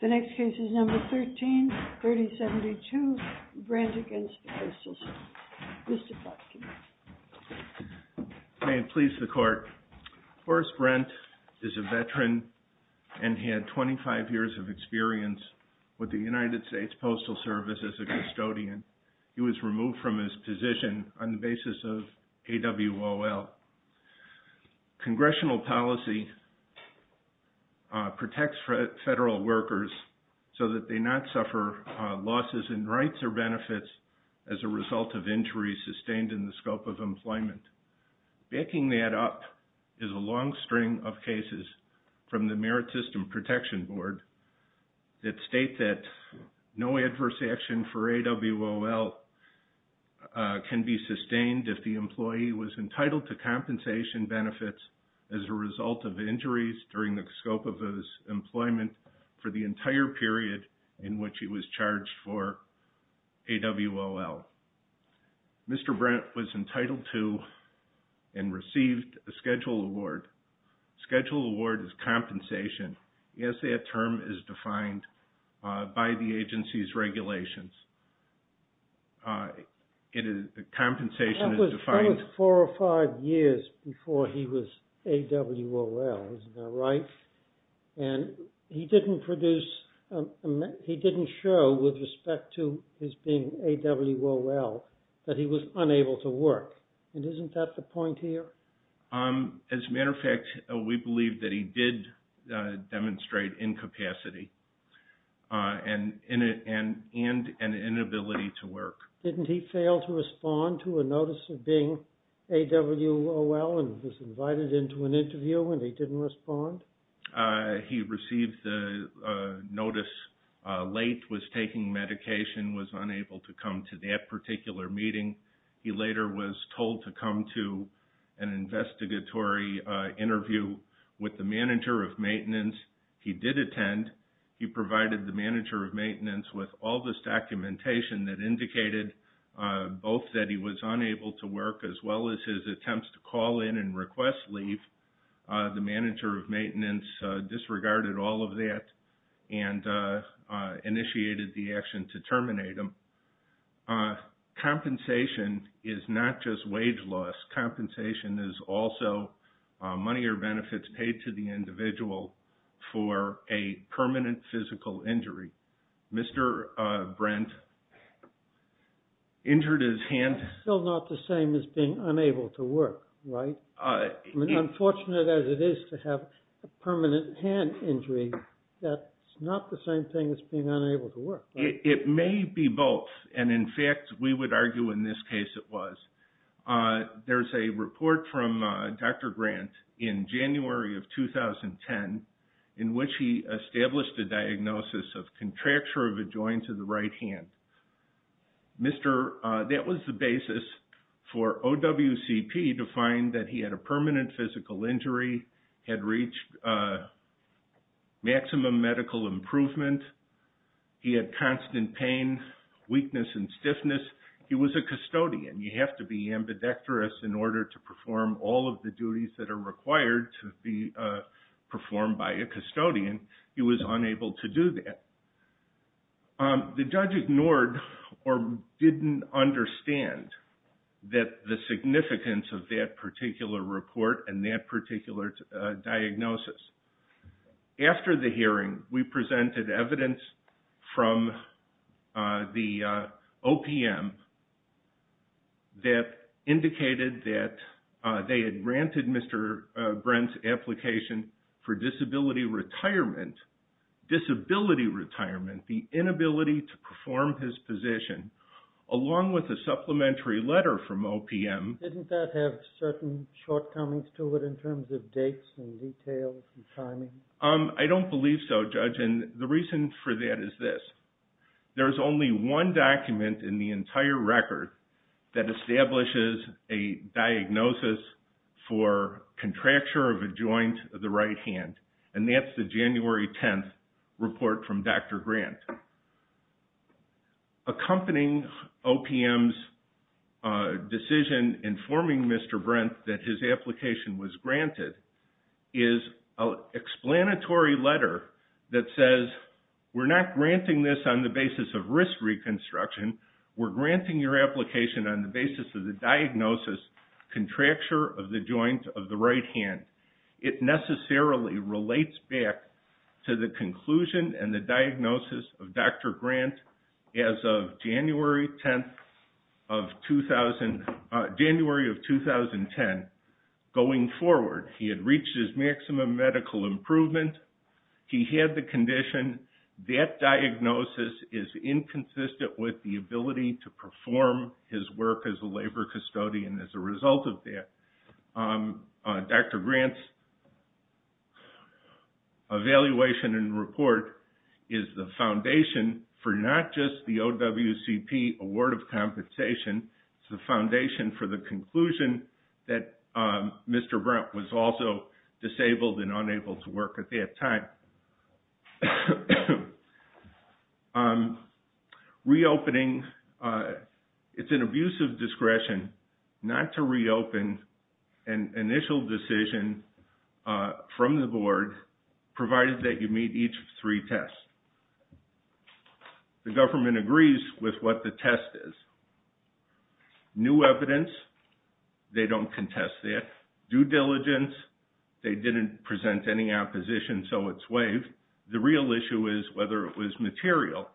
The next case is number 13-3072, Branch v. Coastal State. May it please the court, Horace Brent is a veteran and had 25 years of experience with the United States Postal Service as a custodian. He was removed from his position on the basis of AWOL. Congressional policy protects federal workers so that they not suffer losses in rights or of injuries sustained in the scope of employment. Backing that up is a long string of cases from the Merit System Protection Board that state that no adverse action for AWOL can be sustained if the employee was entitled to compensation benefits as a result of injuries during the scope of his employment for the Mr. Brent was entitled to and received a Schedule Award. Schedule Award is compensation, as that term is defined by the agency's regulations. It is the compensation is defined... That was four or five years before he was AWOL, isn't that right? And he didn't produce, he didn't show with respect to his being AWOL that he was unable to work. And isn't that the point here? As a matter of fact, we believe that he did demonstrate incapacity and an inability to work. Didn't he fail to respond to a notice of being AWOL and was invited into an interview and he didn't respond? He received the notice late, was taking medication, was unable to come to that particular meeting. He later was told to come to an investigatory interview with the manager of maintenance. He did attend. He provided the manager of maintenance with all this documentation that indicated both that he was unable to work as well as his attempts to call in and request leave. The manager of maintenance disregarded all of that and initiated the action to terminate him. Compensation is not just wage loss. Compensation is also money or benefits paid to the individual for a permanent physical injury. Mr. Brent injured his hand. Still not the same as being unable to work, right? Unfortunate as it is to have a permanent hand injury, that's not the same thing as being unable to work, right? It may be both. And in fact, we would argue in this case it was. There's a report from Dr. Grant in January of 2010 in which he established a diagnosis of contracture of a joint to the right hand. That was the basis for OWCP to find that he had a permanent physical injury, had reached maximum medical improvement, he had constant pain, weakness, and stiffness. He was a custodian. You have to be ambidextrous in order to perform all of the duties that are required to be performed by a custodian. He was unable to do that. The judge ignored or didn't understand the significance of that particular report and that particular diagnosis. After the hearing, we presented evidence from the OPM that indicated that they had granted Mr. Brent's application for disability retirement, disability retirement, the inability to perform his position, along with a supplementary letter from OPM. Didn't that have certain shortcomings to it in terms of dates and details and timing? I don't believe so, Judge. The reason for that is this. There's only one document in the entire record that establishes a diagnosis for contracture of a joint of the right hand, and that's the January 10th report from Dr. Grant. Accompanying OPM's decision informing Mr. Brent that his application was granted is an explanatory letter that says, we're not granting this on the basis of risk reconstruction. We're granting your application on the basis of the diagnosis, contracture of the joint of the right hand. It necessarily relates back to the conclusion and the diagnosis of Dr. Grant as of January 10th of 2000, January of 2010. Going forward, he had reached his maximum medical improvement. He had the condition. That diagnosis is inconsistent with the ability to perform his work as a labor custodian as a result of that. Dr. Grant's evaluation and report is the foundation for not just the OWCP Award of Compensation. It's the foundation for the conclusion that Mr. Brent was also disabled and unable to work at that time. It's an abusive discretion not to reopen an initial decision from the board, provided that you meet each of three tests. The government agrees with what the test is. New evidence, they don't contest that. Due diligence, they didn't present any opposition, so it's waived. The real issue is whether it was material.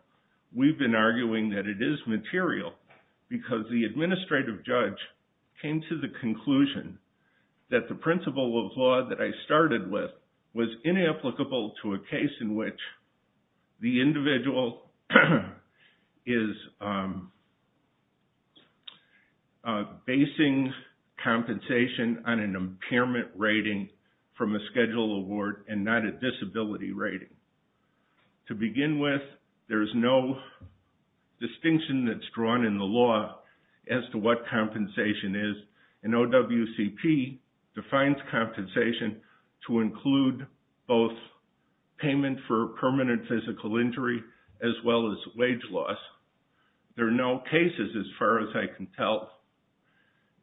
We've been arguing that it is material because the administrative judge came to the conclusion that the principle of law that I started with was inapplicable to a case in which the individual is basing compensation on an impairment rating from a schedule award and not a disability rating. To begin with, there's no distinction that's drawn in the law as to what compensation is and OWCP defines compensation to include both payment for permanent physical injury as well as wage loss. There are no cases, as far as I can tell,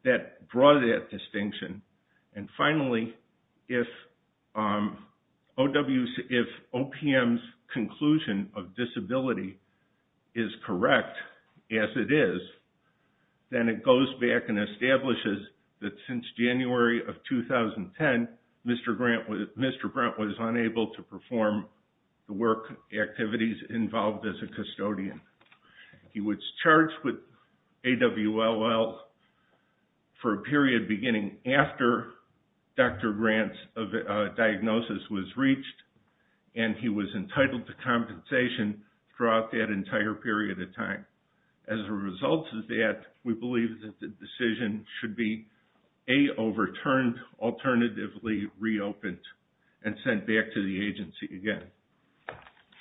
that draw that distinction. If OPM's conclusion of disability is correct, as it is, then it goes back and establishes that since January of 2010, Mr. Grant was unable to perform the work activities involved as a custodian. He was charged with AWLL for a period beginning after Dr. Grant's diagnosis was reached, and he was entitled to compensation throughout that entire period of time. As a result of that, we believe that the decision should be A, overturned, alternatively reopened, and sent back to the agency again.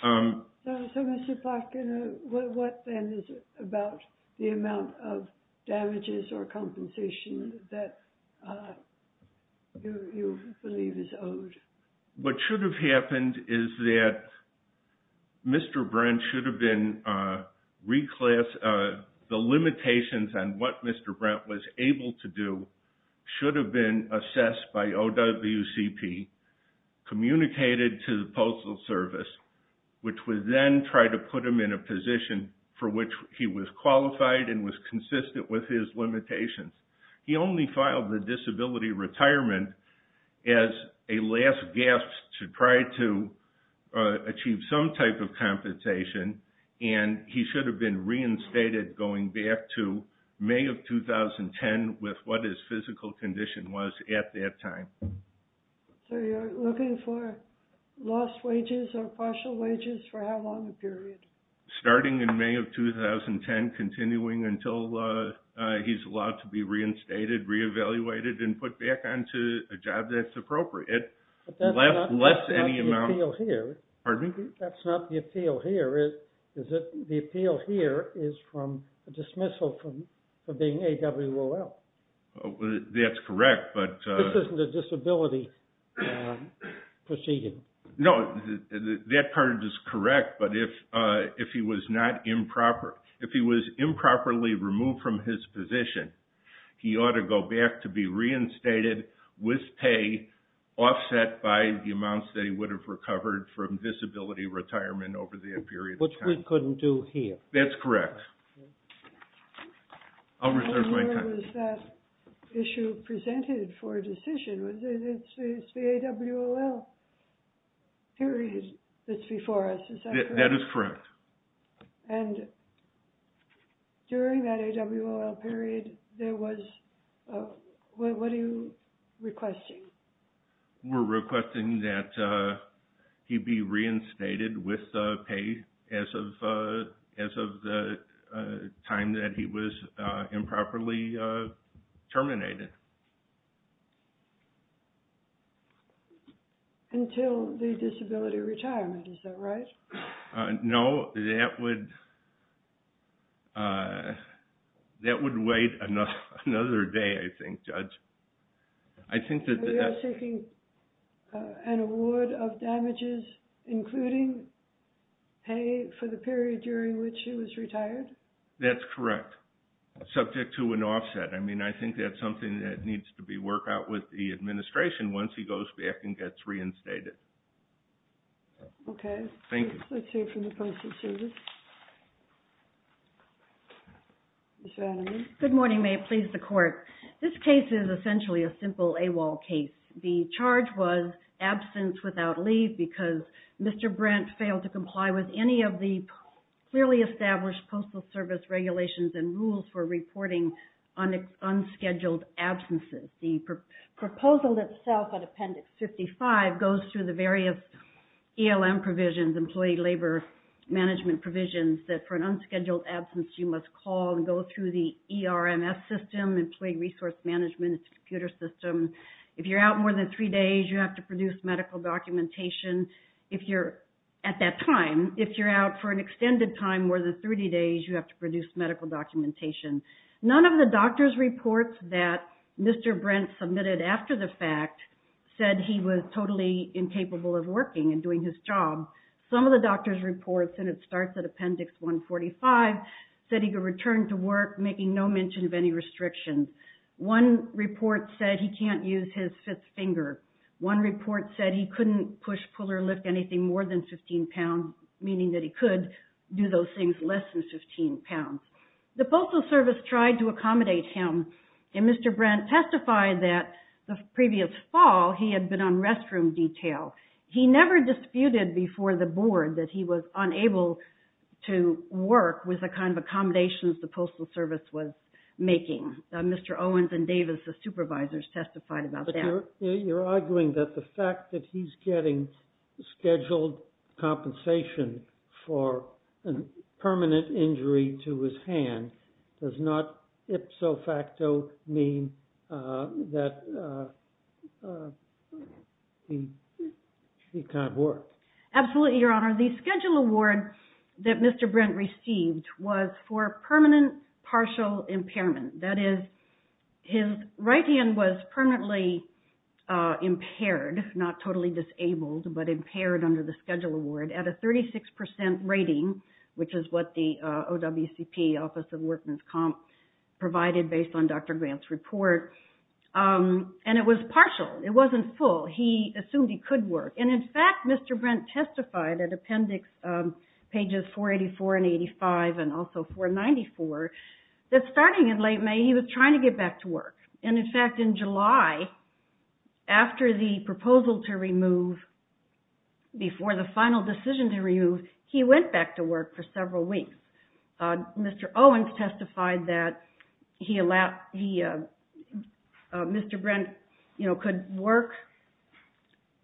So, Mr. Plotkin, what then is it about the amount of damages or compensation that you believe is owed? What should have happened is that the limitations on what Mr. Grant was able to do should have been assessed by OWCP, communicated to the Postal Service, which would then try to put him in a position for which he was qualified and was consistent with his limitations. He only filed the disability retirement as a last gasp to try to achieve some type of compensation, and he should have been reinstated going back to May of 2010 with what his physical condition was at that time. So you're looking for lost wages or partial wages for how long a period? Starting in May of 2010, continuing until he's allowed to be reinstated, re-evaluated, and put back onto a job that's appropriate, less any amount... But that's not the appeal here. Pardon me? That's not the appeal here, is it? The appeal here is from a dismissal for being AWOL. That's correct, but... This isn't a disability proceeding. No, that part is correct, but if he was improperly removed from his position, he ought to go back to be reinstated with pay offset by the amounts that he would have recovered from disability retirement over that period of time. Which we couldn't do here. That's correct. I'll reserve my time. Was that issue presented for a decision? It's the AWOL period that's before us, is that correct? That is correct. And during that AWOL period, there was... What are you requesting? We're requesting that he be reinstated with pay as of the time that he was improperly terminated. Until the disability retirement, is that right? No, that would wait another day, I think, Judge. Are you seeking an award of damages, including pay for the period during which he was retired? That's correct, subject to an offset. I mean, I think that's something that needs to be worked out with the administration once he goes back and gets reinstated. Okay. Thank you. Let's hear from the Postal Service. Ms. Vanderman? Good morning. May it please the Court? This case is essentially a simple AWOL case. The charge was absence without leave because Mr. Brent failed to comply with any of the clearly established Postal Service regulations and rules for reporting unscheduled absences. The proposal itself, on Appendix 55, goes through the various ELM provisions, Employee Labor Management provisions, that for an unscheduled absence, you must call and go through the Resource Management Computer System. If you're out more than three days, you have to produce medical documentation. At that time, if you're out for an extended time, more than 30 days, you have to produce medical documentation. None of the doctor's reports that Mr. Brent submitted after the fact said he was totally incapable of working and doing his job. Some of the doctor's reports, and it starts at Appendix 145, said he could return to work making no mention of any restrictions. One report said he can't use his fifth finger. One report said he couldn't push, pull, or lift anything more than 15 pounds, meaning that he could do those things less than 15 pounds. The Postal Service tried to accommodate him, and Mr. Brent testified that the previous fall, he had been on restroom detail. He never disputed before the Board that he was unable to work with the kind of accommodations the Postal Service was making. Mr. Owens and Davis, the supervisors, testified about that. But you're arguing that the fact that he's getting scheduled compensation for a permanent injury to his hand does not ipso facto mean that he can't work? Absolutely, Your Honor. The Schedule Award that Mr. Brent received was for permanent partial impairment. That is, his right hand was permanently impaired, not totally disabled, but impaired under the Schedule Award at a 36% rating, which is what the OWCP, Office of Workman's Comp, provided based on Dr. Grant's report. And it was partial. It wasn't full. He assumed he could work. And in fact, Mr. Brent testified at Appendix pages 484 and 85 and also 494, that starting in late May, he was trying to get back to work. And in fact, in July, after the proposal to remove, before the final decision to remove, he went back to work for several weeks. Mr. Owens testified that Mr. Brent could work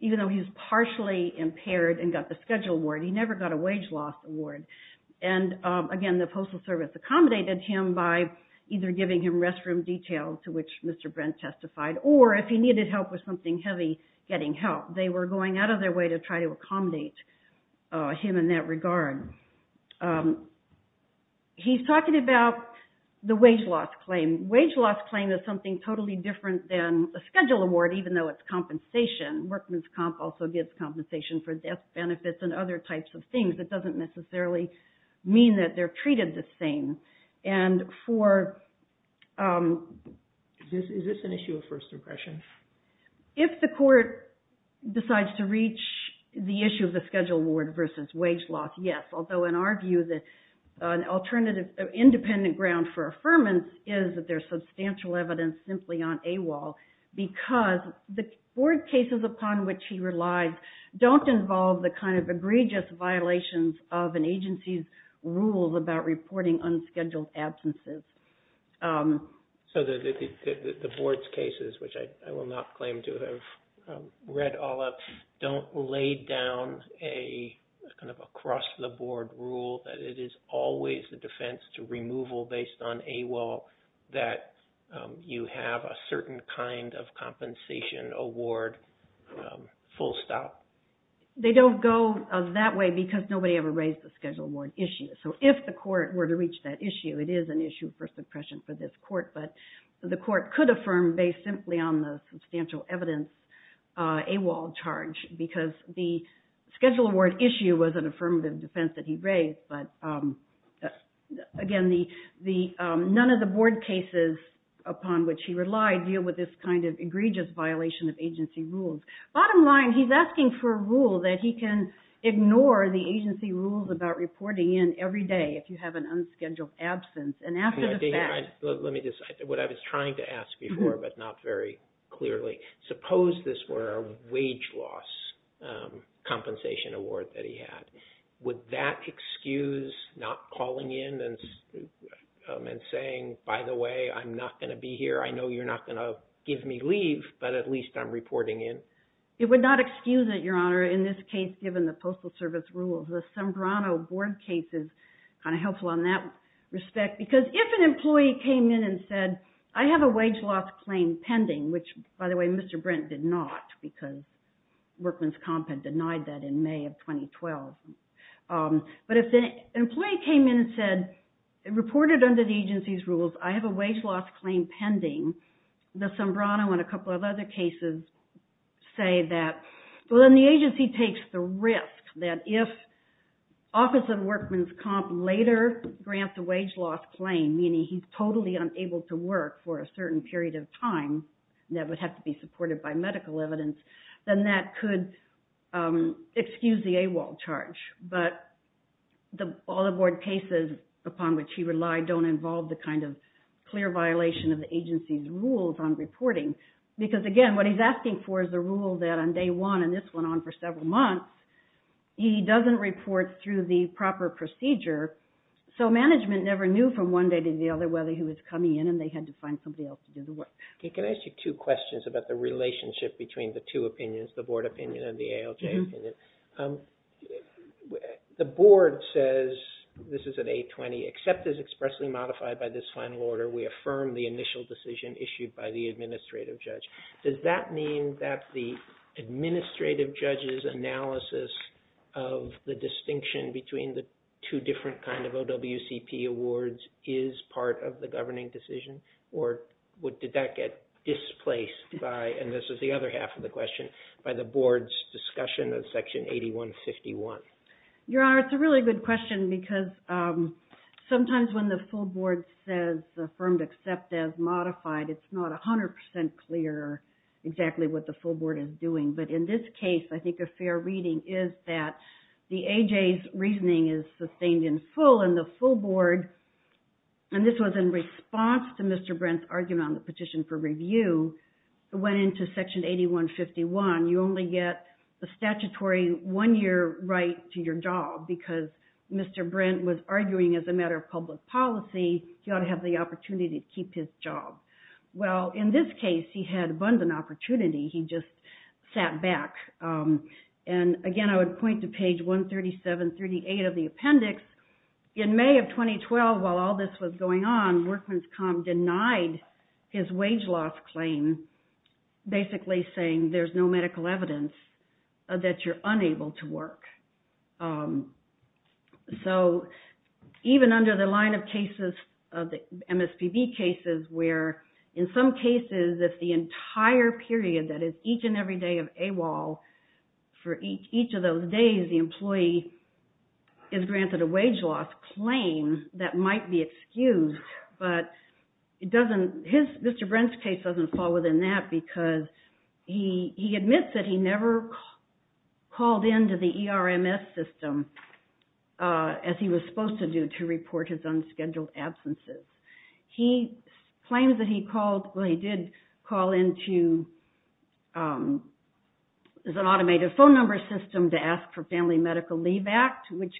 even though he was partially impaired and got the Schedule Award. He never got a wage loss award. And again, the Postal Service accommodated him by either giving him restroom details, to which Mr. Brent testified, or if he needed help with something heavy, getting help. They were going out of their way to try to accommodate him in that regard. He's talking about the wage loss claim. Wage loss claim is something totally different than a Schedule Award, even though it's compensation. Workman's Comp also gives compensation for death benefits and other types of things. It doesn't necessarily mean that they're treated the same. And for... Is this an issue of first impression? If the court decides to reach the issue of the Schedule Award versus wage loss, yes. Although, in our view, an alternative independent ground for affirmance is that there's substantial evidence simply on AWOL because the board cases upon which he relies don't involve the kind of egregious violations of an agency's rules about reporting unscheduled absences. So the board's cases, which I will not claim to have read all of, don't lay down a kind of award rule that it is always the defense to removal based on AWOL that you have a certain kind of compensation award full stop. They don't go that way because nobody ever raised the Schedule Award issue. So if the court were to reach that issue, it is an issue of first impression for this court. But the court could affirm based simply on the substantial evidence AWOL charge because the Schedule Award issue was an affirmative defense that he raised. But again, none of the board cases upon which he relied deal with this kind of egregious violation of agency rules. Bottom line, he's asking for a rule that he can ignore the agency rules about reporting in every day if you have an unscheduled absence. And after the fact... Let me just... What I was trying to ask before but not very clearly, suppose this were a wage loss compensation award that he had. Would that excuse not calling in and saying, by the way, I'm not going to be here. I know you're not going to give me leave, but at least I'm reporting in? It would not excuse it, Your Honor, in this case given the Postal Service rules. The Sembrano board case is kind of helpful on that respect because if an employee came in and said, I have a wage loss claim pending, which, by the way, Mr. Brent did not because Workman's Comp had denied that in May of 2012. But if an employee came in and said, reported under the agency's rules, I have a wage loss claim pending, the Sembrano and a couple of other cases say that... Well, then the agency takes the risk that if Office of Workman's Comp later grants a person able to work for a certain period of time that would have to be supported by medical evidence, then that could excuse the AWOL charge. But all the board cases upon which he relied don't involve the kind of clear violation of the agency's rules on reporting. Because, again, what he's asking for is the rule that on day one, and this went on for several months, he doesn't report through the proper procedure. So management never knew from one day to the other whether he was coming in and they had to find somebody else to do the work. Can I ask you two questions about the relationship between the two opinions, the board opinion and the ALJ opinion? The board says, this is at 820, except as expressly modified by this final order, we affirm the initial decision issued by the administrative judge. Does that mean that the administrative judge's analysis of the distinction between the two different kind of OWCP awards is part of the governing decision? Or did that get displaced by, and this is the other half of the question, by the board's discussion of Section 8151? Your Honor, it's a really good question because sometimes when the full board says affirmed except as modified, it's not 100% clear exactly what the full board is doing. But in this case, I think a fair reading is that the AJ's reasoning is sustained in full and the full board, and this was in response to Mr. Brent's argument on the petition for review, it went into Section 8151. You only get the statutory one year right to your job because Mr. Brent was arguing as a matter of public policy, he ought to have the opportunity to keep his job. Well, in this case, he had abundant opportunity. He just sat back. And again, I would point to page 137, 38 of the appendix. In May of 2012, while all this was going on, Workman's Com denied his wage loss claim, basically saying there's no medical evidence that you're unable to work. So even under the line of cases of the MSPB cases where in some cases, if the entire period that is each and every day of AWOL, for each of those days, the employee is granted a wage loss claim, that might be excused. But Mr. Brent's case doesn't fall within that because he admits that he never called in to the ERMS system as he was supposed to do to report his unscheduled absences. He claims that he called, well, he did call in to an automated phone number system to ask for Family Medical Leave Act, which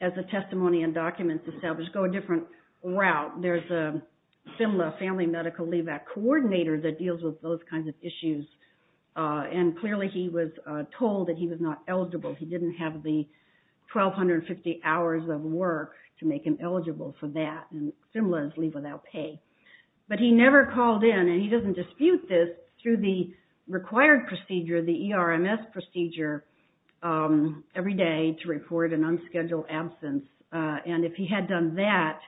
as the testimony and documents established, go a different route. There's a FMLA, Family Medical Leave Act coordinator that deals with those kinds of issues. And clearly he was told that he was not eligible. He didn't have the 1,250 hours of work to make him eligible for that, and similarly without pay. But he never called in, and he doesn't dispute this, through the required procedure, the ERMS procedure, every day to report an unscheduled absence. And if he had done that,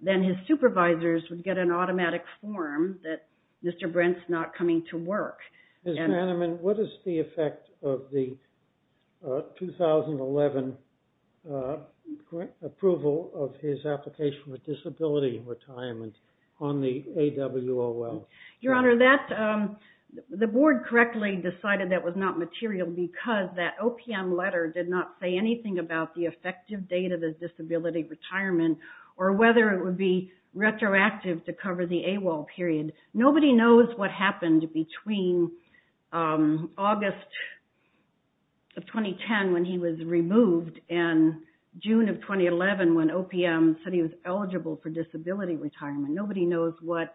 then his supervisors would get an automatic form that Mr. Brent's not coming to work. Mr. Hanneman, what is the effect of the 2011 approval of his application for disability retirement on the AWOL? Your Honor, the board correctly decided that was not material because that OPM letter did not say anything about the effective date of his disability retirement or whether it would be retroactive to cover the AWOL period. Nobody knows what happened between August of 2010 when he was removed and June of 2011 when OPM said he was eligible for disability retirement. Nobody knows what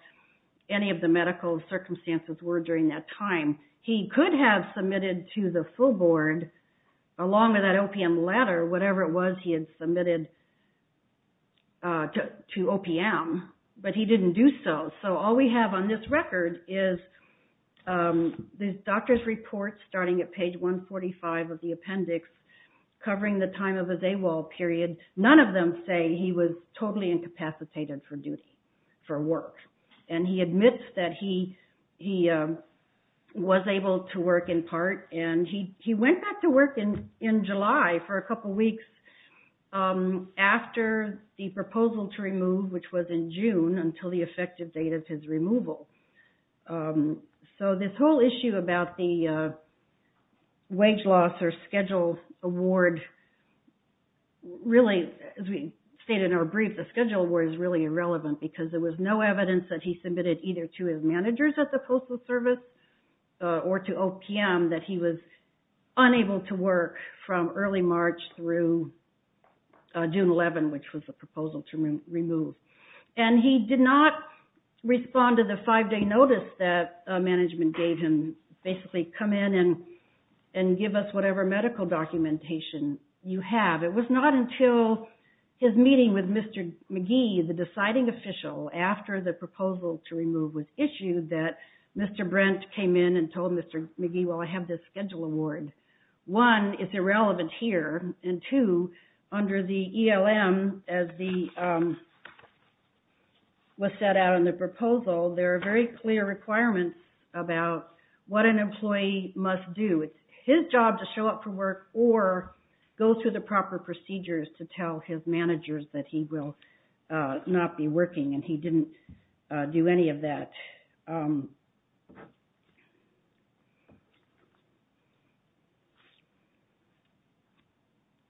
any of the medical circumstances were during that time. He could have submitted to the full board, along with that OPM letter, whatever it was he had submitted to OPM, but he didn't do so. So all we have on this record is the doctor's report starting at page 145 of the appendix covering the time of his AWOL period. None of them say he was totally incapacitated for duty, for work. And he admits that he was able to work in part, and he went back to work in July for a couple weeks after the proposal to remove, which was in June, until the effective date of his removal. So this whole issue about the wage loss or schedule award really, as we stated in our brief, the schedule award is really irrelevant because there was no evidence that he submitted either to his managers at the Postal Service or to OPM that he was unable to work from early March through June 11, which was the proposal to remove. And he did not respond to the five-day notice that management gave him, basically come in and give us whatever medical documentation you have. It was not until his meeting with Mr. McGee, the deciding official, after the proposal to remove was issued that Mr. Brent came in and told Mr. McGee, well, I have this schedule award. One, it's irrelevant here. And two, under the ELM, as was set out in the proposal, there are very clear requirements about what an employee must do. It's his job to show up for work or go through the proper procedures to tell his managers that he will not be working, and he didn't do any of that.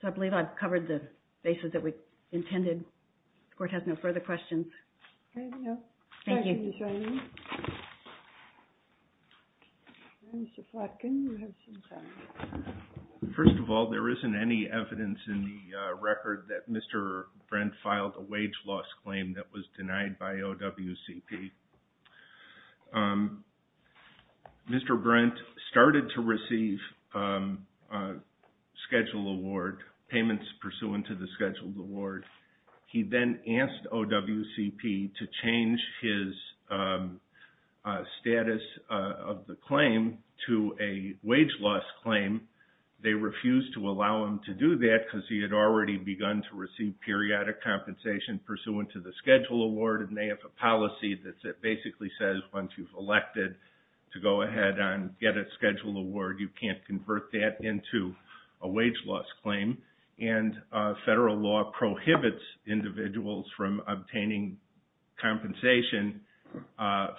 So I believe I've covered the basis that we intended. The Court has no further questions. Okay. No. Thank you. Thank you for joining. Mr. Flatkin, you have some time. First of all, there isn't any evidence in the record that Mr. Brent filed a wage loss claim that was denied by OWCP. Mr. Brent started to receive a schedule award, payments pursuant to the schedule award. He then asked OWCP to change his status of the claim to a wage loss claim. They refused to allow him to do that because he had already begun to receive periodic compensation pursuant to the schedule award, and they have a policy that basically says once you've elected to go ahead and get a schedule award, you can't convert that into a wage loss claim. And federal law prohibits individuals from obtaining compensation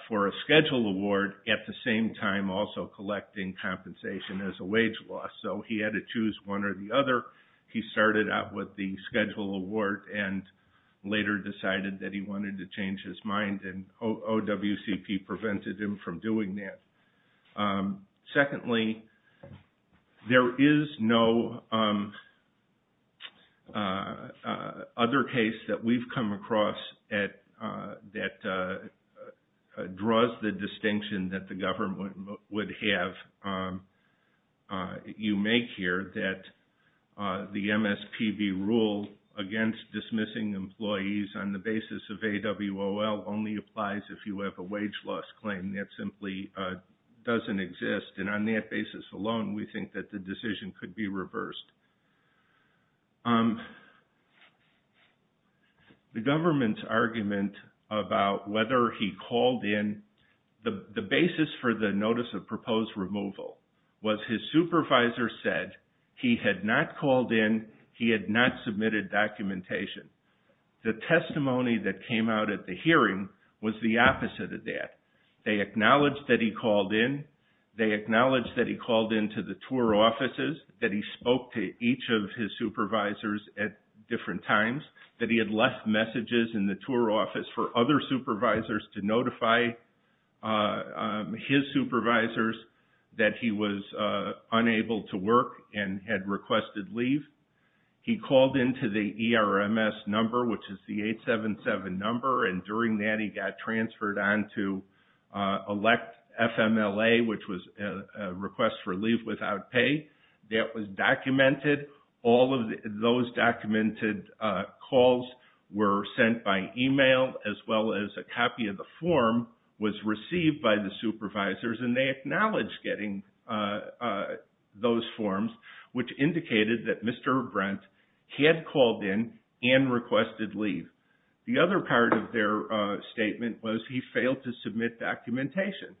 for a schedule award at the same time also collecting compensation as a wage loss. So he had to choose one or the other. He started out with the schedule award and later decided that he wanted to change his mind, and OWCP prevented him from doing that. Secondly, there is no other case that we've come across that draws the distinction that the government would have you make here that the MSPB rule against dismissing employees on the basis of AWOL only applies if you have a wage loss claim. That simply doesn't exist. And on that basis alone, we think that the decision could be reversed. The government's argument about whether he called in, the basis for the notice of proposed removal was his supervisor said he had not called in, he had not submitted documentation. The testimony that came out at the hearing was the opposite of that. They acknowledged that he called in. They acknowledged that he called in to the tour offices, that he spoke to each of his supervisors at different times, that he had left messages in the tour office for other supervisors to notify his supervisors that he was unable to work and had requested leave. He called in to the ERMS number, which is the 877 number, and during that he got transferred on to elect FMLA, which was a request for leave without pay. That was documented. All of those documented calls were sent by email, as well as a copy of the form was received by the supervisors, and they acknowledged getting those forms, which indicated that Mr. Brent had called in and requested leave. The other part of their statement was he failed to submit documentation.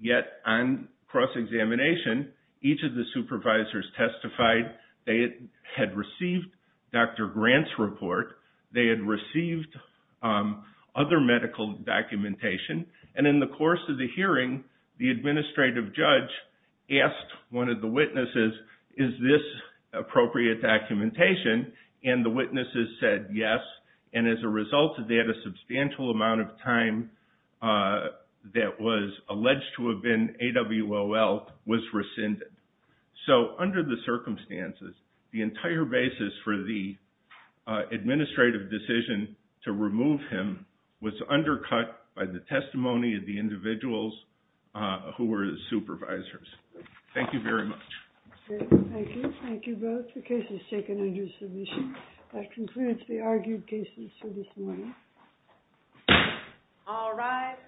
Yet on cross-examination, each of the supervisors testified they had received Dr. Grant's report, they had received other medical documentation, and in the course of the hearing, the administrative judge asked one of the witnesses, is this appropriate documentation? And the witnesses said yes, and as a result of that, a substantial amount of time that was alleged to have been AWOL was rescinded. So under the circumstances, the entire basis for the administrative decision to remove him was undercut by the testimony of the individuals who were his supervisors. Thank you very much. Thank you. Thank you both. The case is taken under submission. That concludes the argued cases for this morning. All rise.